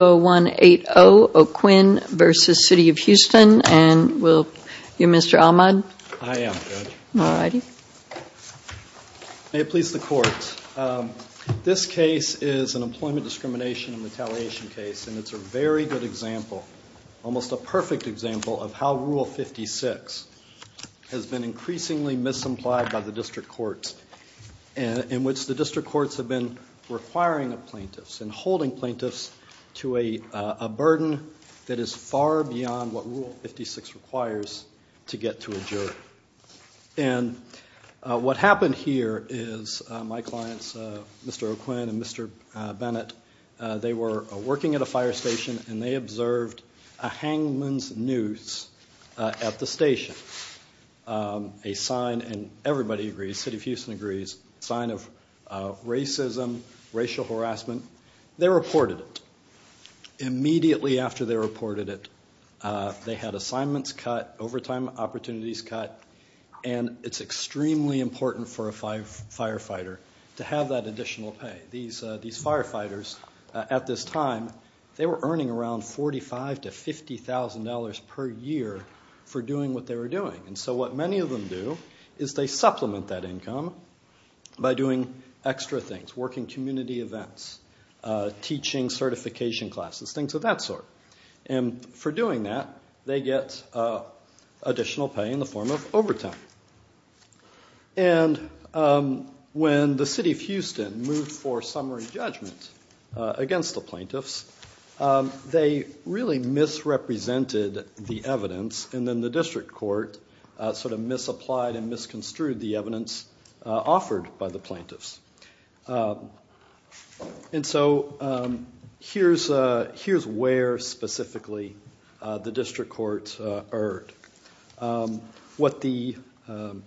0180 O'Quinn v. City of Houston and will you Mr. Ahmad? I am Judge. May it please the courts. This case is an employment discrimination and retaliation case and it's a very good example, almost a perfect example, of how Rule 56 has been increasingly misapplied by the district courts in which the district courts have been requiring plaintiffs and holding plaintiffs to a burden that is far beyond what Rule 56 requires to get to a jury. And what happened here is my clients Mr. O'Quinn and Mr. Bennett, they were working at a fire station and they observed a hangman's noose at the station. A sign and everybody agrees, City of Houston, Texas. They reported it immediately after they reported it. They had assignments cut, overtime opportunities cut, and it's extremely important for a firefighter to have that additional pay. These firefighters at this time, they were earning around $45,000 to $50,000 per year for doing what they were doing. And so what many of them do is they supplement that income by doing extra things, working community events, teaching certification classes, things of that sort. And for doing that they get additional pay in the form of overtime. And when the City of Houston moved for summary judgment against the plaintiffs they really misrepresented the evidence and then the district court sort of And so here's where specifically the district court erred. What the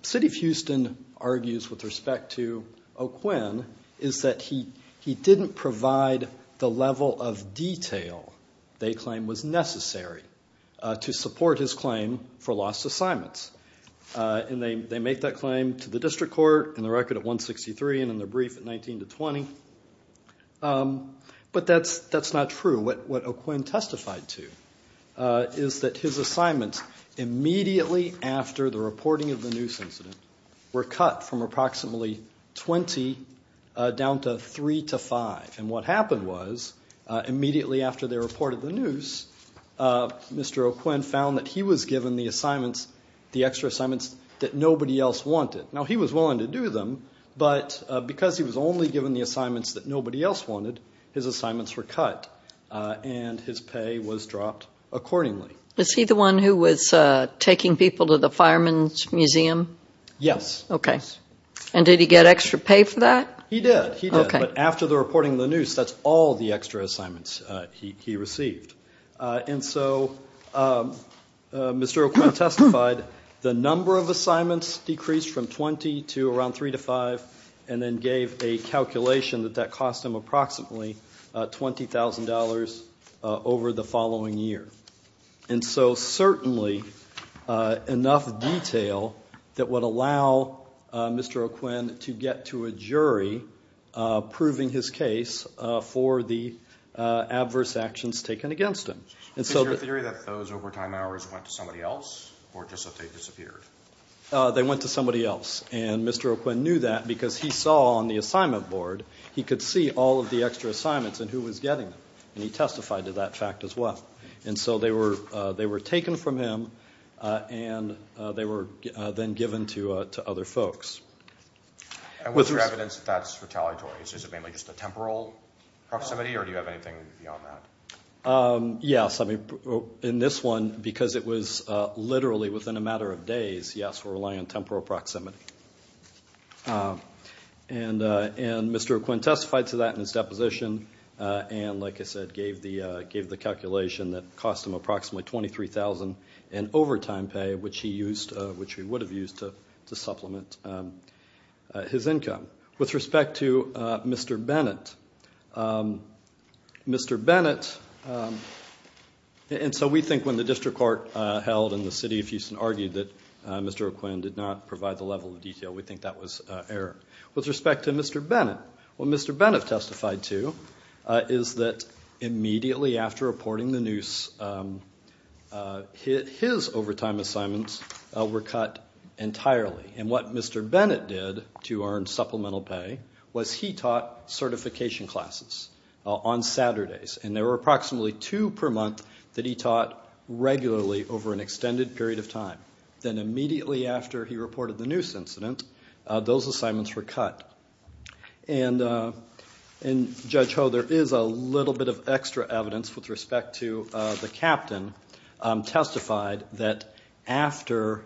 City of Houston argues with respect to O'Quinn is that he didn't provide the level of detail they claim was necessary to support his claim for lost assignments. And they make that claim to the district court in the record at 163 and in the brief at 19 to 20. But that's not true. What O'Quinn testified to is that his assignments immediately after the reporting of the noose incident were cut from approximately 20 down to 3 to 5. And what happened was immediately after they reported the noose, Mr. O'Quinn found that he was given the assignments, the Now he was willing to do them, but because he was only given the assignments that nobody else wanted, his assignments were cut and his pay was dropped accordingly. Is he the one who was taking people to the Fireman's Museum? Yes. Okay. And did he get extra pay for that? He did. He did. But after the reporting of the noose, that's all the extra assignments he received. And so Mr. O'Quinn testified the number of assignments decreased from 20 to around 3 to 5 and then gave a calculation that that cost him approximately $20,000 over the following year. And so certainly enough detail that would allow Mr. O'Quinn to get to a jury proving his case for the adverse actions taken against him. Is your theory that those overtime hours went to somebody else or just that they disappeared? They went to somebody else. And Mr. O'Quinn knew that because he saw on the assignment board, he could see all of the extra assignments and who was getting them. And he testified to that fact as well. And so they were taken from him and they were then given to other folks. And what's your evidence that that's retaliatory? Is it mainly just a temporal proximity or do you have anything beyond that? Yes. I mean, in this one, because it was literally within a matter of days, yes, we're relying on temporal proximity. And Mr. O'Quinn testified to that in his deposition. And like I said, gave the calculation that cost him approximately $23,000 in overtime pay, which he used, which he would have used to supplement his income. With respect to Mr. Bennett, Mr. Bennett, and so we think when the district court held and the city of Houston argued that Mr. O'Quinn did not provide the level of detail, we think that was error. With respect to Mr. Bennett, what Mr. Bennett testified to is that immediately after reporting the news, his overtime assignments were cut entirely. And what Mr. Bennett did to earn supplemental pay was he taught certification classes on Saturdays. And there were approximately two per month that he taught regularly over an extended period of time. Then immediately after he reported the news incident, those assignments were cut. And Judge Ho, there is a little bit of extra evidence with respect to the captain, testified that after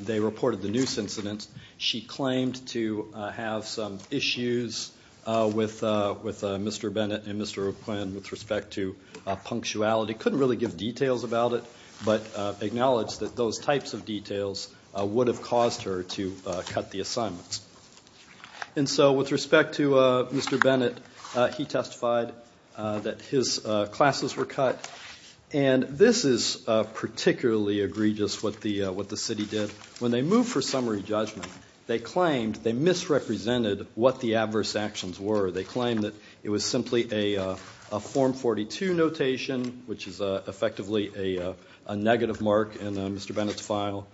they reported the news incident, she claimed to have some issues with Mr. Bennett and Mr. O'Quinn with respect to punctuality. Couldn't really give details about it, but acknowledged that those types of details would have caused her to cut the assignments. And so with respect to Mr. Bennett, he testified that his classes were cut. And this is particularly egregious what the city did. When they moved for summary judgment, they claimed they misrepresented what the adverse actions were. They claimed that it was simply a Form 42 notation, which is effectively a negative mark in Mr. Bennett's file.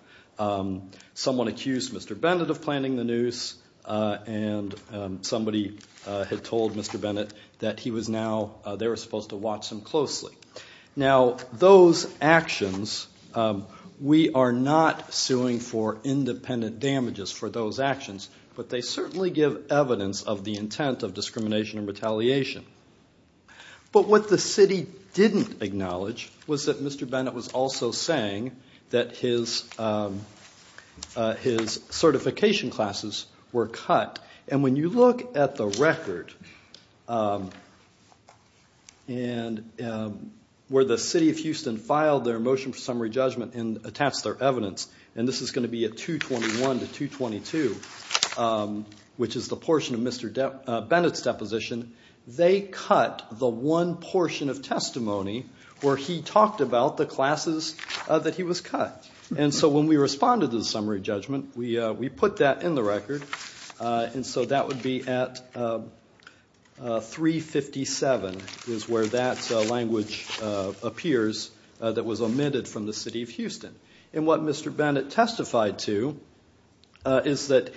Someone accused Mr. Bennett of planning the noose and somebody had told Mr. Bennett that he was now, they were supposed to watch him closely. Now those actions, we are not suing for independent damages for those actions, but they certainly give evidence of the intent of discrimination and retaliation. But what the city didn't acknowledge was that Mr. Bennett's classification classes were cut. And when you look at the record, where the city of Houston filed their motion for summary judgment and attached their evidence, and this is going to be at 221 to 222, which is the portion of Mr. Bennett's deposition, they cut the one portion of testimony where he talked about the classes that he was cut. And so when we responded to the summary judgment, we put that in the record, and so that would be at 357 is where that language appears that was omitted from the city of Houston. And what Mr. Bennett testified to is that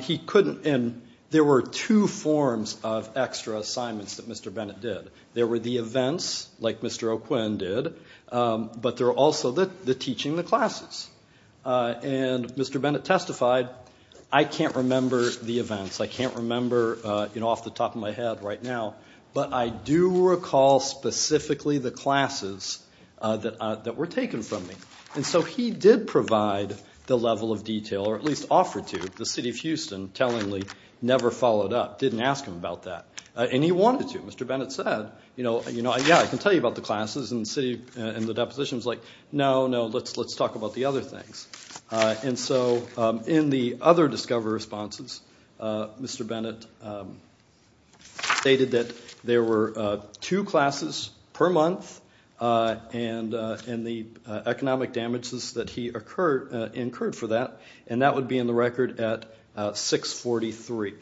he couldn't, and there were two forms of extra assignments that Mr. Bennett did. There were the events, like Mr. O'Quinn did, but there are also the teaching the classes. And Mr. Bennett testified, I can't remember the events, I can't remember, you know, off the top of my head right now, but I do recall specifically the classes that were taken from me. And so he did provide the level of detail, or at least offer to. The city of Houston, tellingly, never followed up, didn't ask him about that. And he wanted to. Mr. Bennett said, you know, yeah, I can tell you about the classes and the depositions. Like, no, no, let's let's talk about the other things. And so in the other discover responses, Mr. Bennett stated that there were two classes per month, and in the economic damages that he incurred for that, and that would be in the record at 643.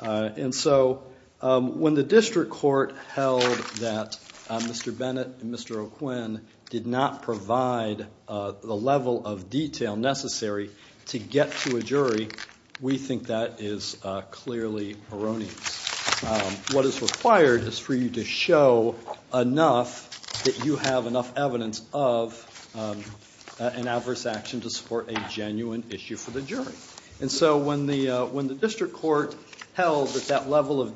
And so when the district court held that Mr. O'Quinn did not provide the level of detail necessary to get to a jury, we think that is clearly erroneous. What is required is for you to show enough that you have enough evidence of an adverse action to support a genuine issue for the jury. And so when the when the district court held that that level of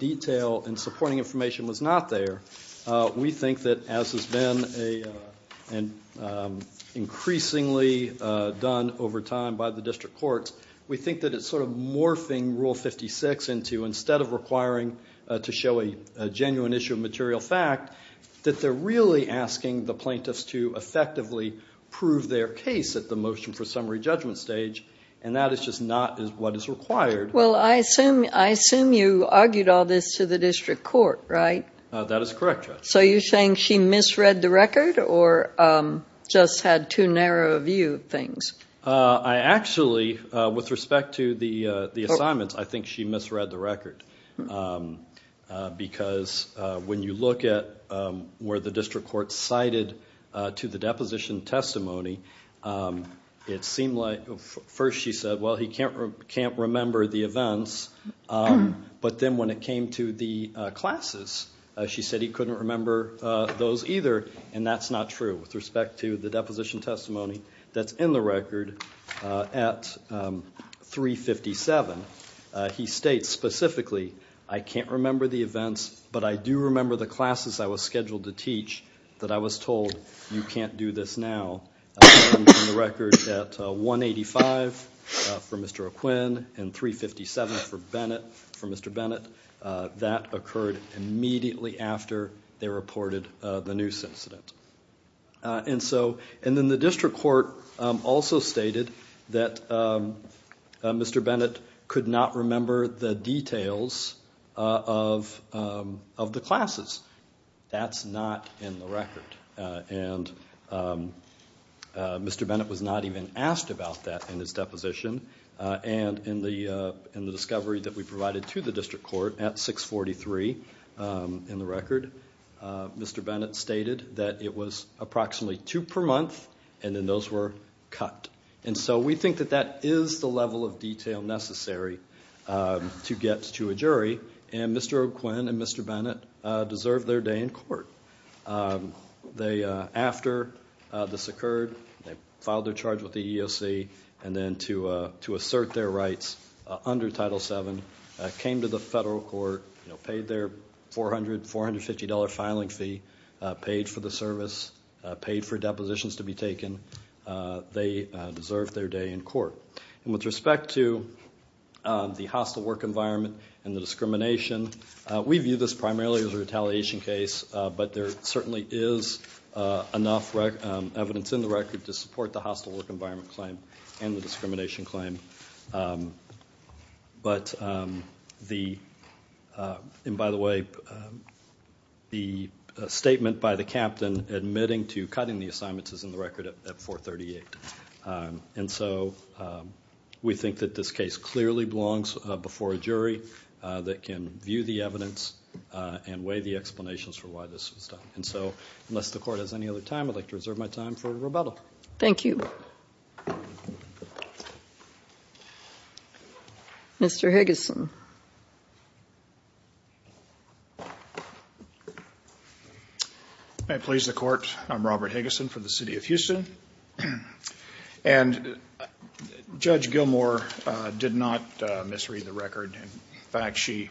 and increasingly done over time by the district courts, we think that it's sort of morphing Rule 56 into, instead of requiring to show a genuine issue of material fact, that they're really asking the plaintiffs to effectively prove their case at the motion for summary judgment stage. And that is just not what is required. Well, I assume I assume you argued all this to the district court, right? That is correct, Judge. So you're saying she misread the record or just had too narrow a view of things? I actually, with respect to the the assignments, I think she misread the record. Because when you look at where the district court cited to the deposition testimony, it seemed like first she said, well he can't can't remember the events, but then when it came to the classes, she said he couldn't remember those either. And that's not true with respect to the deposition testimony that's in the record at 357. He states specifically, I can't remember the events, but I do remember the classes I was scheduled to teach that I was told you can't do this now. The record at 185 for immediately after they reported the noose incident. And so, and then the district court also stated that Mr. Bennett could not remember the details of of the classes. That's not in the record. And Mr. Bennett was not even asked about that in his deposition. And in the in the discovery that we provided to the district court at 643 in the record, Mr. Bennett stated that it was approximately two per month and then those were cut. And so we think that that is the level of detail necessary to get to a jury. And Mr. O'Quinn and Mr. Bennett deserve their day in court. They, after this occurred, they filed their charge with the EEOC and then to assert their rights under Title VII, came to the federal court, you know, paid their $400, $450 filing fee, paid for the service, paid for depositions to be taken. They deserve their day in court. And with respect to the hostile work environment and the discrimination, we view this primarily as a retaliation case, but there certainly is enough evidence in the record to support the hostile work environment claim and the discrimination claim. But the, and by the way, the statement by the captain admitting to cutting the assignments is in the record at 438. And so we think that this case clearly belongs before a jury that can view the evidence and weigh the explanations for why this was done. And so unless the court has any other time, I'd like to reserve my time for rebuttal. Thank you. Mr. Higgison. May it please the court. I'm Robert Higgison for the city of Houston. And Judge Gilmour did not misread the record. In fact, she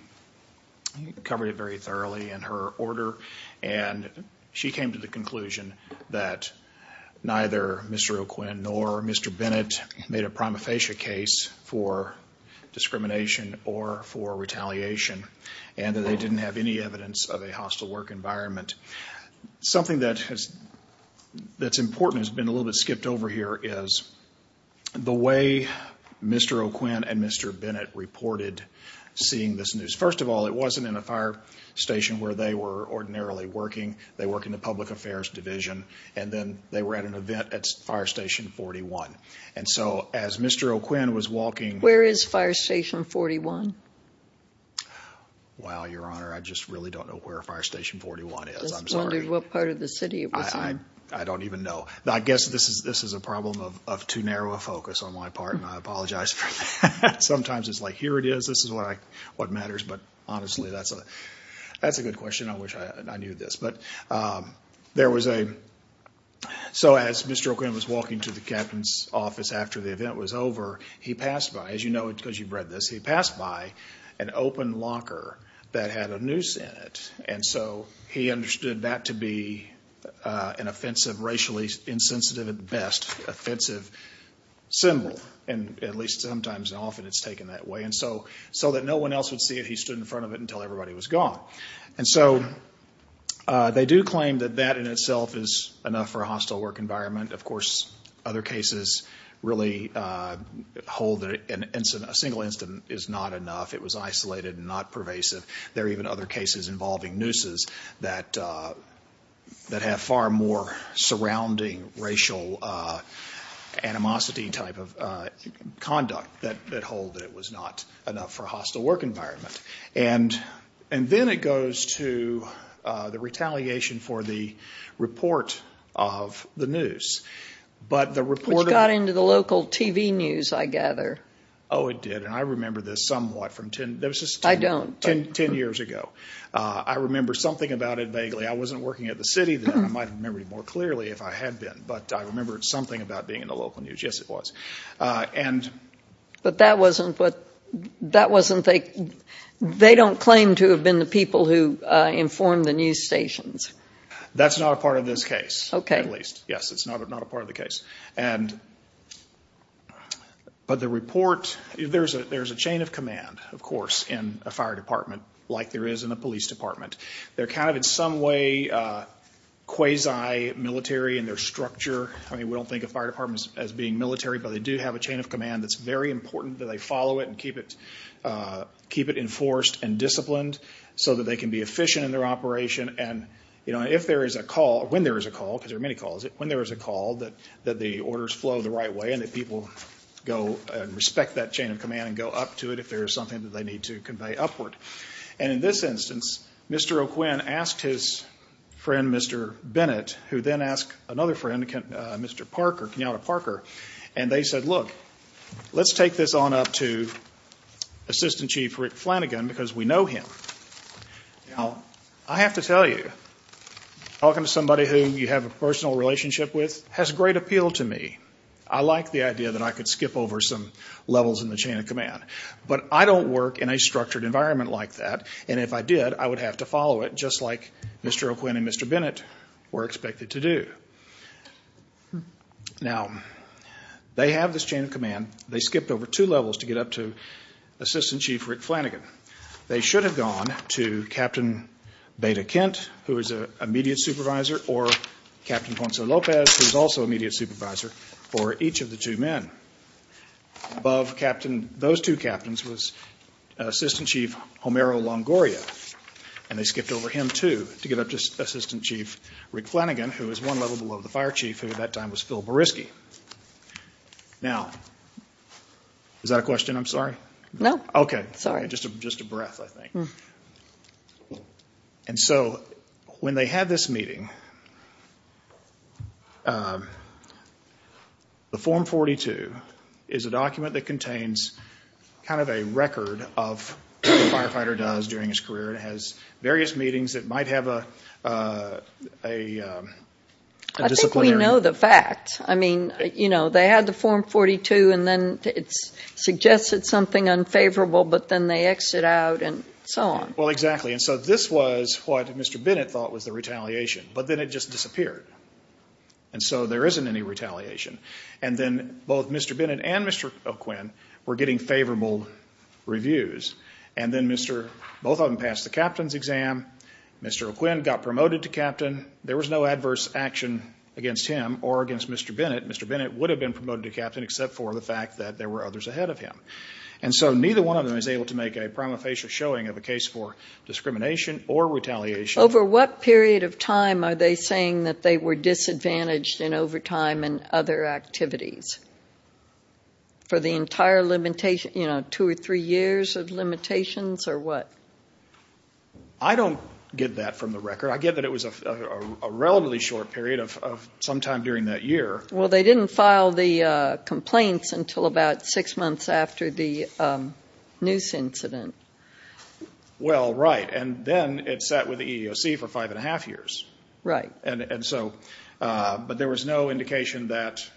covered it very thoroughly in her order and she came to the conclusion that neither Mr. O'Quinn nor Mr. Bennett made a prima facie case for discrimination or for retaliation and that they didn't have any evidence of a hostile work environment. Something that has, that's important has been a little bit skipped over here is the way Mr. O'Quinn and Mr. Bennett reported seeing this news. First of all, it wasn't in a fire station where they were ordinarily working. They work in the Public Affairs Division and then they were at an event at Fire Station 41. And so as Mr. O'Quinn was walking... Where is Fire Station 41? Wow, Your Honor, I just really don't know where Fire Station 41 is. I'm sorry. I just wondered what part of the city it was in. I don't even know. I guess this is a problem of too narrow a focus on my part and I apologize for that. Sometimes it's like here it is, this is what matters, but honestly that's a good question. I wish I knew this, but there was a... So as Mr. O'Quinn was walking to the captain's office after the event was over, he passed by, as you know it because you've read this, he passed by an open locker that had a noose in it. And so he understood that to be an offensive, racially insensitive at best, offensive symbol. And at least sometimes and often it's taken that way. And so that no one else would see it, he stood in front of it until everybody was gone. And so they do claim that that in itself is enough for a hostile work environment. Of course other cases really hold that a single incident is not enough. It was isolated and not pervasive. There are even other cases involving nooses that have far more surrounding racial animosity type of conduct that hold that it was not enough for a hostile work environment. And then it goes to the retaliation for the report of the noose. Which got into the local TV news, I gather. Oh it did, and I remember this somewhat from ten... I don't. Ten years ago. I remember something about it vaguely. I wasn't working at the city then. I might remember it more clearly if I had been, but I remember it's something about being in the local news. Yes it was. But that wasn't what, that wasn't, they don't claim to have been the people who informed the news stations. That's not a part of this case. Okay. At least, yes, it's not a part of the case. But the report, there's a chain of command, of course, in a fire department like there is in a police department. They're kind of in some way quasi-military in their structure. I mean we don't think of fire departments as being military, but they do have a chain of command that's very important that they follow it and keep it, keep it enforced and disciplined so that they can be efficient in their operation. And you know, if there is a call, when there is a call, because there are many calls, when there is a call that the orders flow the right way and that people go and respect that chain of command and go up to it if there is something that they need to convey upward. And in this instance, Mr. O'Quinn asked his friend Mr. Bennett, who then asked another friend, Mr. Parker, Kenyatta Parker, and they said, look, let's take this on up to Assistant Chief Rick Flanagan, because we know him. Now, I have to tell you, talking to somebody who you have a personal relationship with has great appeal to me. I like the idea that I could skip over some levels in the chain of command. But I don't work in a structured environment like that, and if I did, I would have to follow it just like they have this chain of command. They skipped over two levels to get up to Assistant Chief Rick Flanagan. They should have gone to Captain Beta Kent, who is an immediate supervisor, or Captain Ponce Lopez, who is also an immediate supervisor for each of the two men. Above those two captains was Assistant Chief Homero Longoria, and they skipped over him, too, to get up to Assistant Chief Rick Flanagan, who is one level below the fire chief, who at that time was Phil Beresky. Now, is that a question? I'm sorry. No. Okay. Sorry. Just a breath, I think. And so, when they had this meeting, the Form 42 is a document that contains kind of a record of what a firefighter does during his career. It has various meetings. It might have a disciplinary... I think we know the fact. I mean, you know, they had the Form 42, and then it suggested something unfavorable, but then they exit out, and so on. Well, exactly. And so, this was what Mr. Bennett thought was the retaliation, but then it just disappeared. And so, there isn't any retaliation. And then both Mr. Bennett and Mr. O'Quinn were getting favorable reviews, and then Mr. Both of them passed the captain's exam. Mr. O'Quinn got promoted to captain. There was no adverse action against him or against Mr. Bennett. Mr. Bennett would have been promoted to captain, except for the fact that there were others ahead of him. And so, neither one of them is able to make a prima facie showing of a case for discrimination or retaliation. Over what period of time are they saying that they were disadvantaged in overtime and the entire limitation, you know, two or three years of limitations, or what? I don't get that from the record. I get that it was a relatively short period of some time during that year. Well, they didn't file the complaints until about six months after the noose incident. Well, right. And then it sat with the EEOC for five and a half years. Right. And so, but there was no indication that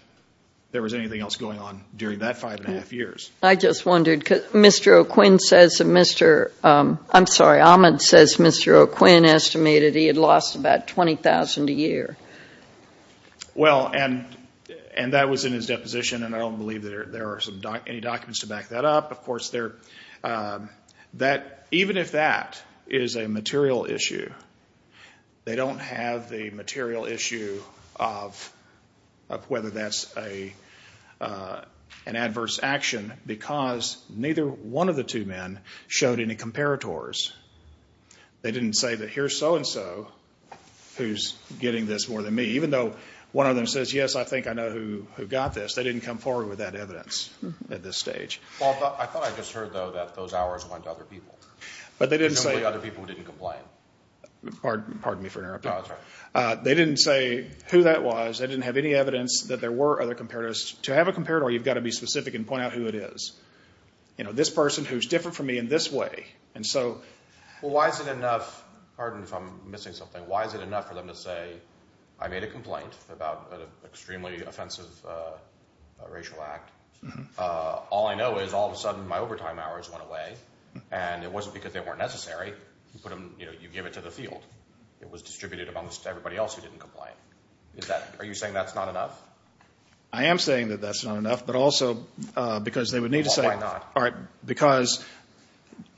there was anything else going on during that five and a half years. I just wondered, Mr. O'Quinn says that Mr. I'm sorry, Ahmed says Mr. O'Quinn estimated he had lost about $20,000 a year. Well, and that was in his deposition, and I don't believe there are any documents to back that up. Of course, even if that is a material issue, they don't have the adverse action because neither one of the two men showed any comparators. They didn't say that here's so-and-so who's getting this more than me. Even though one of them says, yes, I think I know who got this, they didn't come forward with that evidence at this stage. Well, I thought I just heard, though, that those hours went to other people. But they didn't say... Presumably other people who didn't complain. Pardon me for interrupting. No, that's all right. They didn't say who that was. They didn't have any evidence that there were other comparators. To have a comparator, you've got to be specific and point out who it is. You know, this person who's different from me in this way. And so... Well, why is it enough... Pardon if I'm missing something. Why is it enough for them to say, I made a complaint about an extremely offensive racial act. All I know is, all of a sudden, my overtime hours went away. And it wasn't because they weren't necessary. You give it to the field. It was distributed amongst everybody else who didn't complain. Are you saying that's not enough? I am saying that that's not enough, but also because they would need to say... Well, why not? Because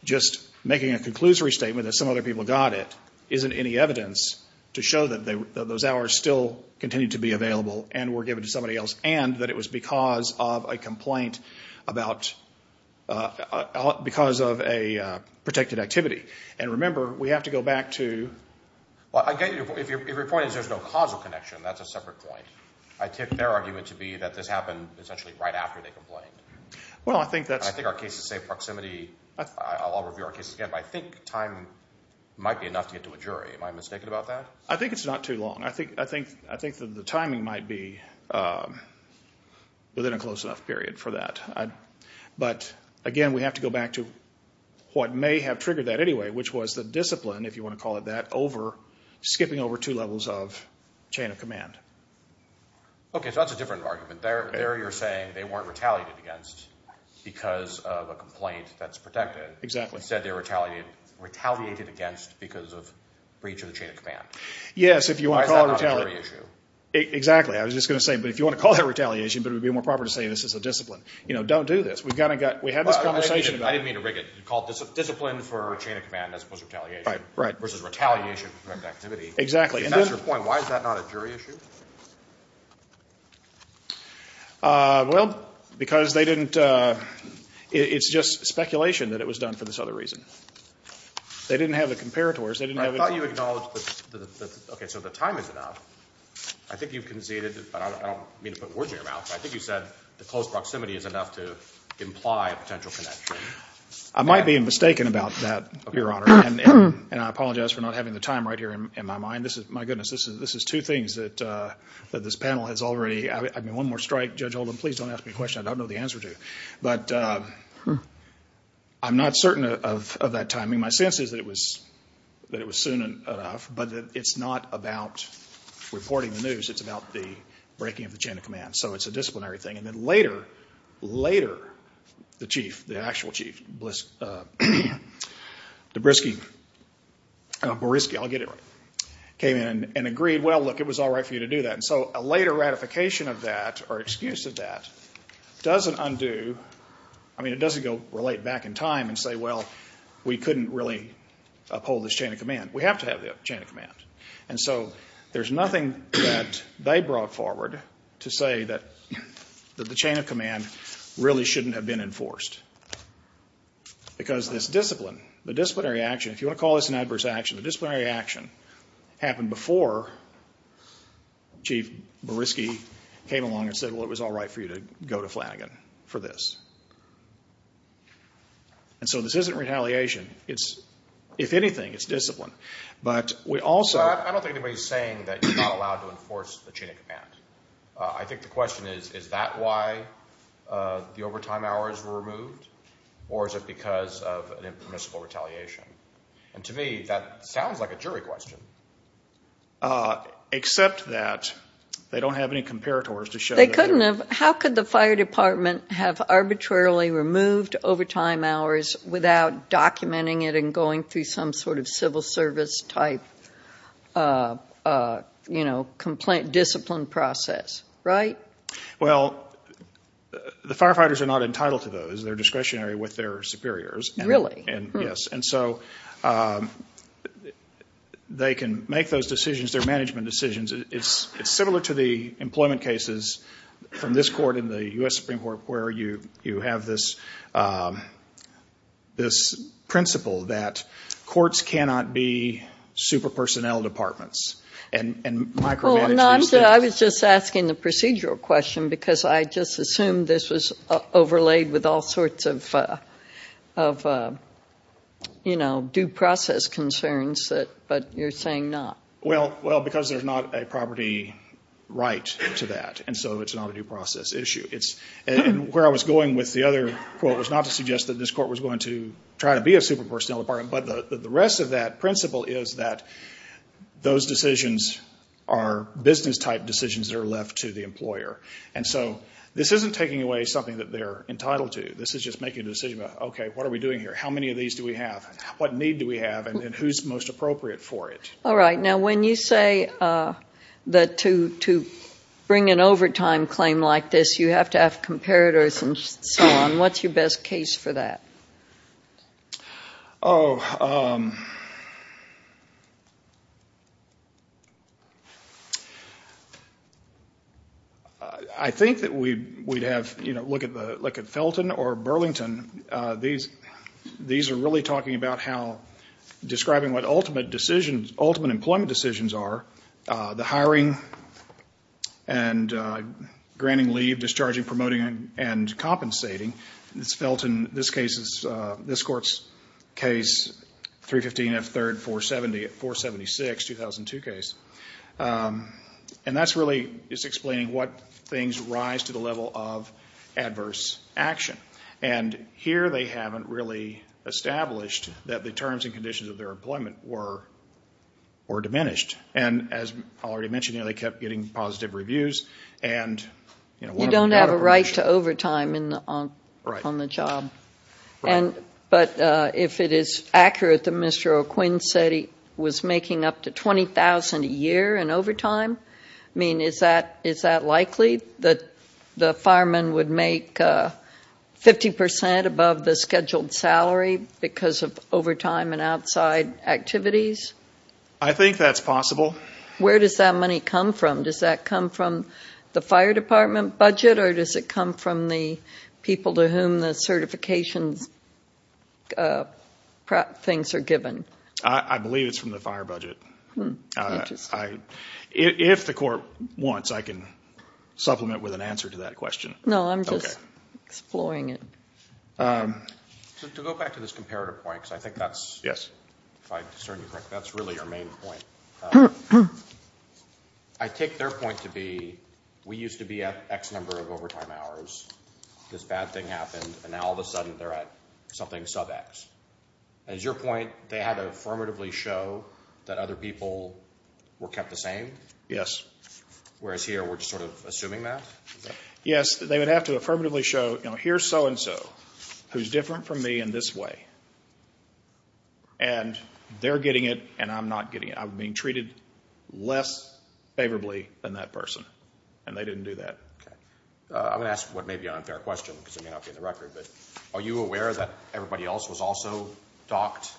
just making a conclusory statement that some other people got it isn't any evidence to show that those hours still continue to be available and were given to somebody else, and that it was because of a complaint about... because of a protected activity. And remember, we have to go back to... Well, I get your point. If your point is there's no causal connection, that's a separate point. I take their argument to be that this happened essentially right after they complained. Well, I think that's... I think our cases say proximity... I'll review our cases again, but I think time might be enough to get to a jury. Am I mistaken about that? I think it's not too long. I think the timing might be within a close enough period for that. But, again, we have to go back to what may have triggered that anyway, which was the discipline, if you want to call it that, skipping over two levels of chain of command. Okay, so that's a different argument. There you're saying they weren't retaliated against because of a complaint that's protected. Exactly. You said they were retaliated against because of breach of the chain of command. Yes, if you want to call it retaliation... Why is that not a jury issue? Exactly. I was just going to say, but if you want to call that retaliation, it would be more proper to say this is a discipline. You know, don't do this. We've got to get... I didn't mean to rig it. You called it discipline for a chain of command as opposed to retaliation versus retaliation for preventive activity. Exactly. If that's your point, why is that not a jury issue? Well, because they didn't... It's just speculation that it was done for this other reason. They didn't have the comparators. I thought you acknowledged... Okay, so the time is enough. I think you've conceded... I don't mean to put words in your mouth, but I think you said the close proximity is enough to imply a potential connection. I might be mistaken about that, Your Honor, and I apologize for not having the time right here in my mind. My goodness, this is two things that this panel has already... I mean, one more strike. Judge Holden, please don't ask me a question I don't know the answer to. But I'm not certain of that timing. My sense is that it was soon enough, but it's not about reporting the news. It's about the breaking of the chain of command. So it's a disciplinary thing. And then later, later, the chief, the actual chief, Debriski, I'll get it right, came in and agreed, well, look, it was all right for you to do that. And so a later ratification of that or excuse of that doesn't undo... I mean, it doesn't go relate back in time and say, well, we couldn't really uphold this chain of command. We have to have the chain of command. And so there's nothing that they brought forward to say that the chain of command really shouldn't have been enforced. Because this discipline, the disciplinary action, if you want to call this an adverse action, the disciplinary action happened before Chief Beriski came along and said, well, it was all right for you to go to Flanagan for this. And so this isn't retaliation. It's, if anything, it's discipline. But we also... I don't think anybody's saying that you're not allowed to enforce the chain of command. I think the question is, is that why the overtime hours were removed? Or is it because of an impermissible retaliation? And to me, that sounds like a jury question. Except that they don't have any comparators to show... They couldn't have. How could the fire department have arbitrarily removed overtime hours without documenting it and going through some sort of civil service type discipline process, right? Well, the firefighters are not entitled to those. They're discretionary with their superiors. Really? Yes. And so they can make those decisions, their management decisions. It's similar to the employment cases from this court and the U.S. Supreme Court where you have this principle that courts cannot be super personnel departments and micromanage these things. I was just asking the procedural question because I just assumed this was overlaid with all sorts of due process concerns, but you're saying not. Well, because there's not a property right to that, and so it's not a due process issue. Where I was going with the other quote was not to suggest that this court was going to try to be a super personnel department, but the rest of that principle is that those decisions are business type decisions that are left to the employer. And so this isn't taking away something that they're entitled to. This is just making a decision about, okay, what are we doing here? How many of these do we have? What need do we have? And who's most appropriate for it? All right. Now, when you say that to bring an overtime claim like this, you have to have comparators and so on. What's your best case for that? Oh, I think that we'd have to look at Felton or Burlington. These are really talking about how, describing what ultimate decisions, ultimate employment decisions are, the hiring and granting leave, discharging, promoting, and compensating. It's Felton. This case is, this court's case, 315 F. 3rd, 476, 2002 case. And that's really, it's explaining what things rise to the level of adverse action. And here they haven't really established that the terms and conditions of their employment were diminished. And as I already mentioned, they kept getting positive reviews. You don't have a right to overtime on the job. Right. But if it is accurate that Mr. O'Quinn said he was making up to $20,000 a year in overtime, I mean, is that likely, that the fireman would make 50% above the scheduled salary because of overtime and outside activities? I think that's possible. Where does that money come from? Does that come from the fire department budget, or does it come from the people to whom the certification things are given? I believe it's from the fire budget. Interesting. If the court wants, I can supplement with an answer to that question. No, I'm just exploring it. To go back to this comparative point, because I think that's, if I discern you correctly, that's really your main point. I take their point to be, we used to be at X number of overtime hours, this bad thing happened, and now all of a sudden they're at something sub-X. Is your point they had to affirmatively show that other people were kept the same? Yes. Whereas here we're just sort of assuming that? Yes, they would have to affirmatively show, here's so-and-so who's different from me in this way, and they're getting it and I'm not getting it. I'm being treated less favorably than that person, and they didn't do that. I'm going to ask what may be an unfair question because it may not be in the record, but are you aware that everybody else was also docked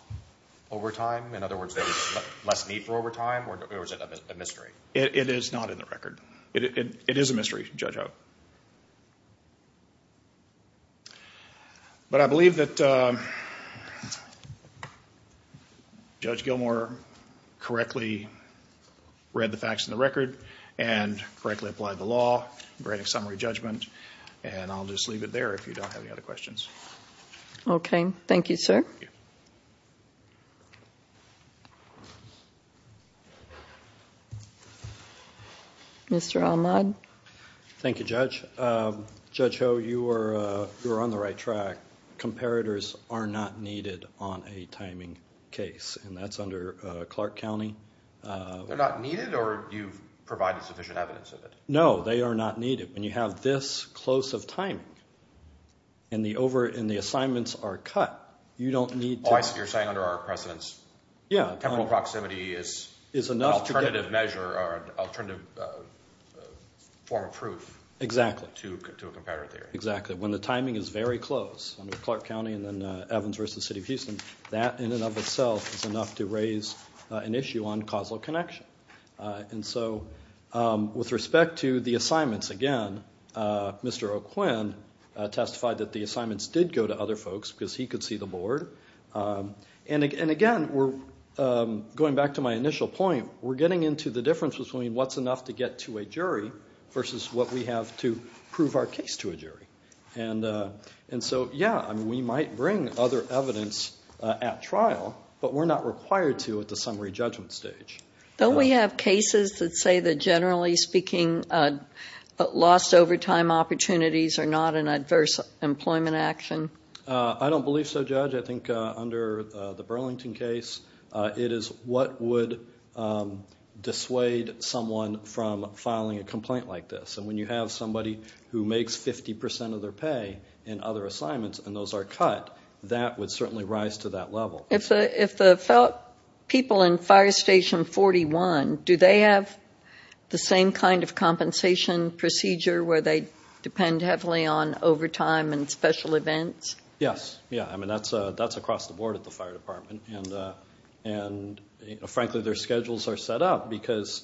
overtime? In other words, there was less need for overtime, or is it a mystery? It is not in the record. It is a mystery, Judge Howe. But I believe that Judge Gilmour correctly read the facts in the record and correctly applied the law, granted summary judgment, and I'll just leave it there if you don't have any other questions. Okay. Thank you, sir. Thank you. Mr. Ahmad? Thank you, Judge. Judge Howe, you were on the right track. Comparators are not needed on a timing case, and that's under Clark County. They're not needed, or you've provided sufficient evidence of it? No, they are not needed. When you have this close of timing and the assignments are cut, you don't need to. Oh, I see. You're saying under our precedence temporal proximity is an alternative measure or alternative form of proof to a competitor theory. Exactly. When the timing is very close under Clark County and then Evans v. City of Houston, that in and of itself is enough to raise an issue on causal connection. And so with respect to the assignments, again, Mr. O'Quinn testified that the assignments did go to other folks because he could see the board. And again, going back to my initial point, we're getting into the difference between what's enough to get to a jury versus what we have to prove our case to a jury. And so, yeah, we might bring other evidence at trial, but we're not required to at the summary judgment stage. Don't we have cases that say that, generally speaking, lost overtime opportunities are not an adverse employment action? I don't believe so, Judge. I think under the Burlington case, it is what would dissuade someone from filing a complaint like this. And when you have somebody who makes 50 percent of their pay in other assignments and those are cut, that would certainly rise to that level. If the people in Fire Station 41, do they have the same kind of compensation procedure where they depend heavily on overtime and special events? Yes. I mean, that's across the board at the fire department. And, frankly, their schedules are set up because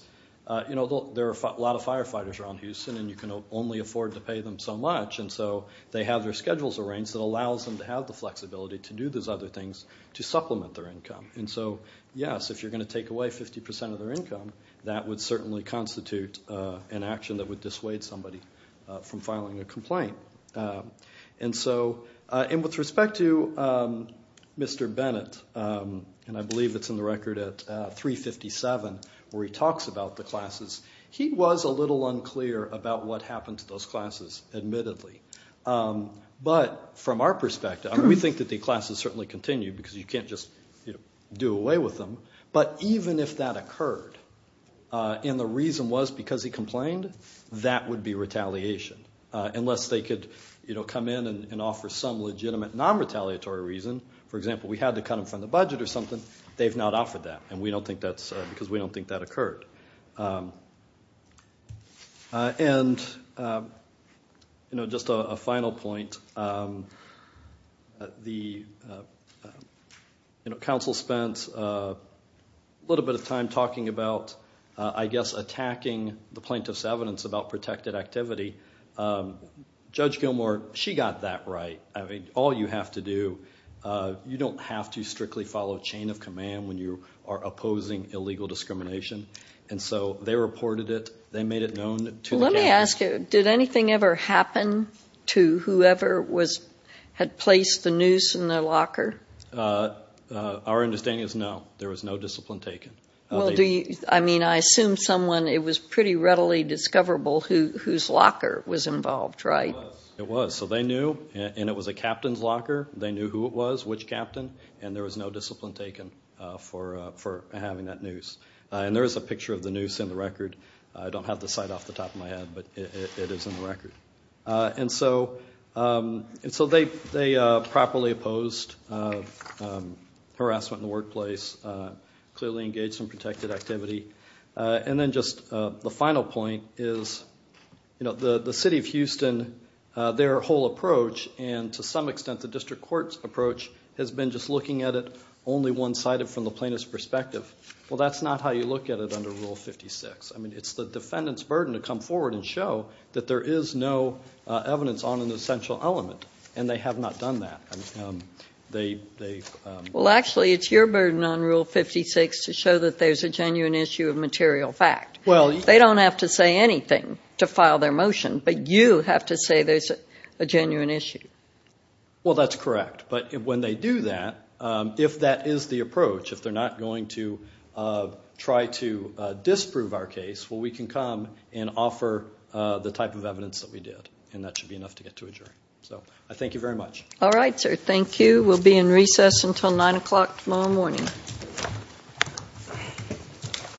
there are a lot of firefighters around Houston and you can only afford to pay them so much. And so they have their schedules arranged that allows them to have the flexibility to do those other things to supplement their income. And so, yes, if you're going to take away 50 percent of their income, that would certainly constitute an action that would dissuade somebody from filing a complaint. And so with respect to Mr. Bennett, and I believe it's in the record at 357 where he talks about the classes, he was a little unclear about what happened to those classes, admittedly. But from our perspective, we think that the classes certainly continue because you can't just do away with them. But even if that occurred and the reason was because he complained, that would be retaliation unless they could come in and offer some legitimate non-retaliatory reason. For example, we had to cut them from the budget or something. They've not offered that and we don't think that's because we don't think that occurred. And just a final point. The council spent a little bit of time talking about, I guess, attacking the plaintiff's evidence about protected activity. Judge Gilmour, she got that right. I mean, all you have to do, you don't have to strictly follow a chain of command when you are opposing illegal discrimination. And so they reported it, they made it known to the campus. Let me ask you, did anything ever happen to whoever had placed the noose in their locker? Our understanding is no. There was no discipline taken. I mean, I assume someone, it was pretty readily discoverable, whose locker was involved, right? It was. So they knew, and it was a captain's locker. They knew who it was, which captain, and there was no discipline taken for having that noose. And there is a picture of the noose in the record. I don't have the site off the top of my head, but it is in the record. And so they properly opposed harassment in the workplace, clearly engaged in protected activity. And then just the final point is, you know, the city of Houston, their whole approach, and to some extent the district court's approach has been just looking at it only one-sided from the plaintiff's perspective. Well, that's not how you look at it under Rule 56. I mean, it's the defendant's burden to come forward and show that there is no evidence on an essential element, and they have not done that. Well, actually, it's your burden on Rule 56 to show that there's a genuine issue of material fact. They don't have to say anything to file their motion, but you have to say there's a genuine issue. Well, that's correct. But when they do that, if that is the approach, if they're not going to try to disprove our case, well, we can come and offer the type of evidence that we did, and that should be enough to get to a jury. So I thank you very much. All right, sir. Thank you. We'll be in recess until 9 o'clock tomorrow morning.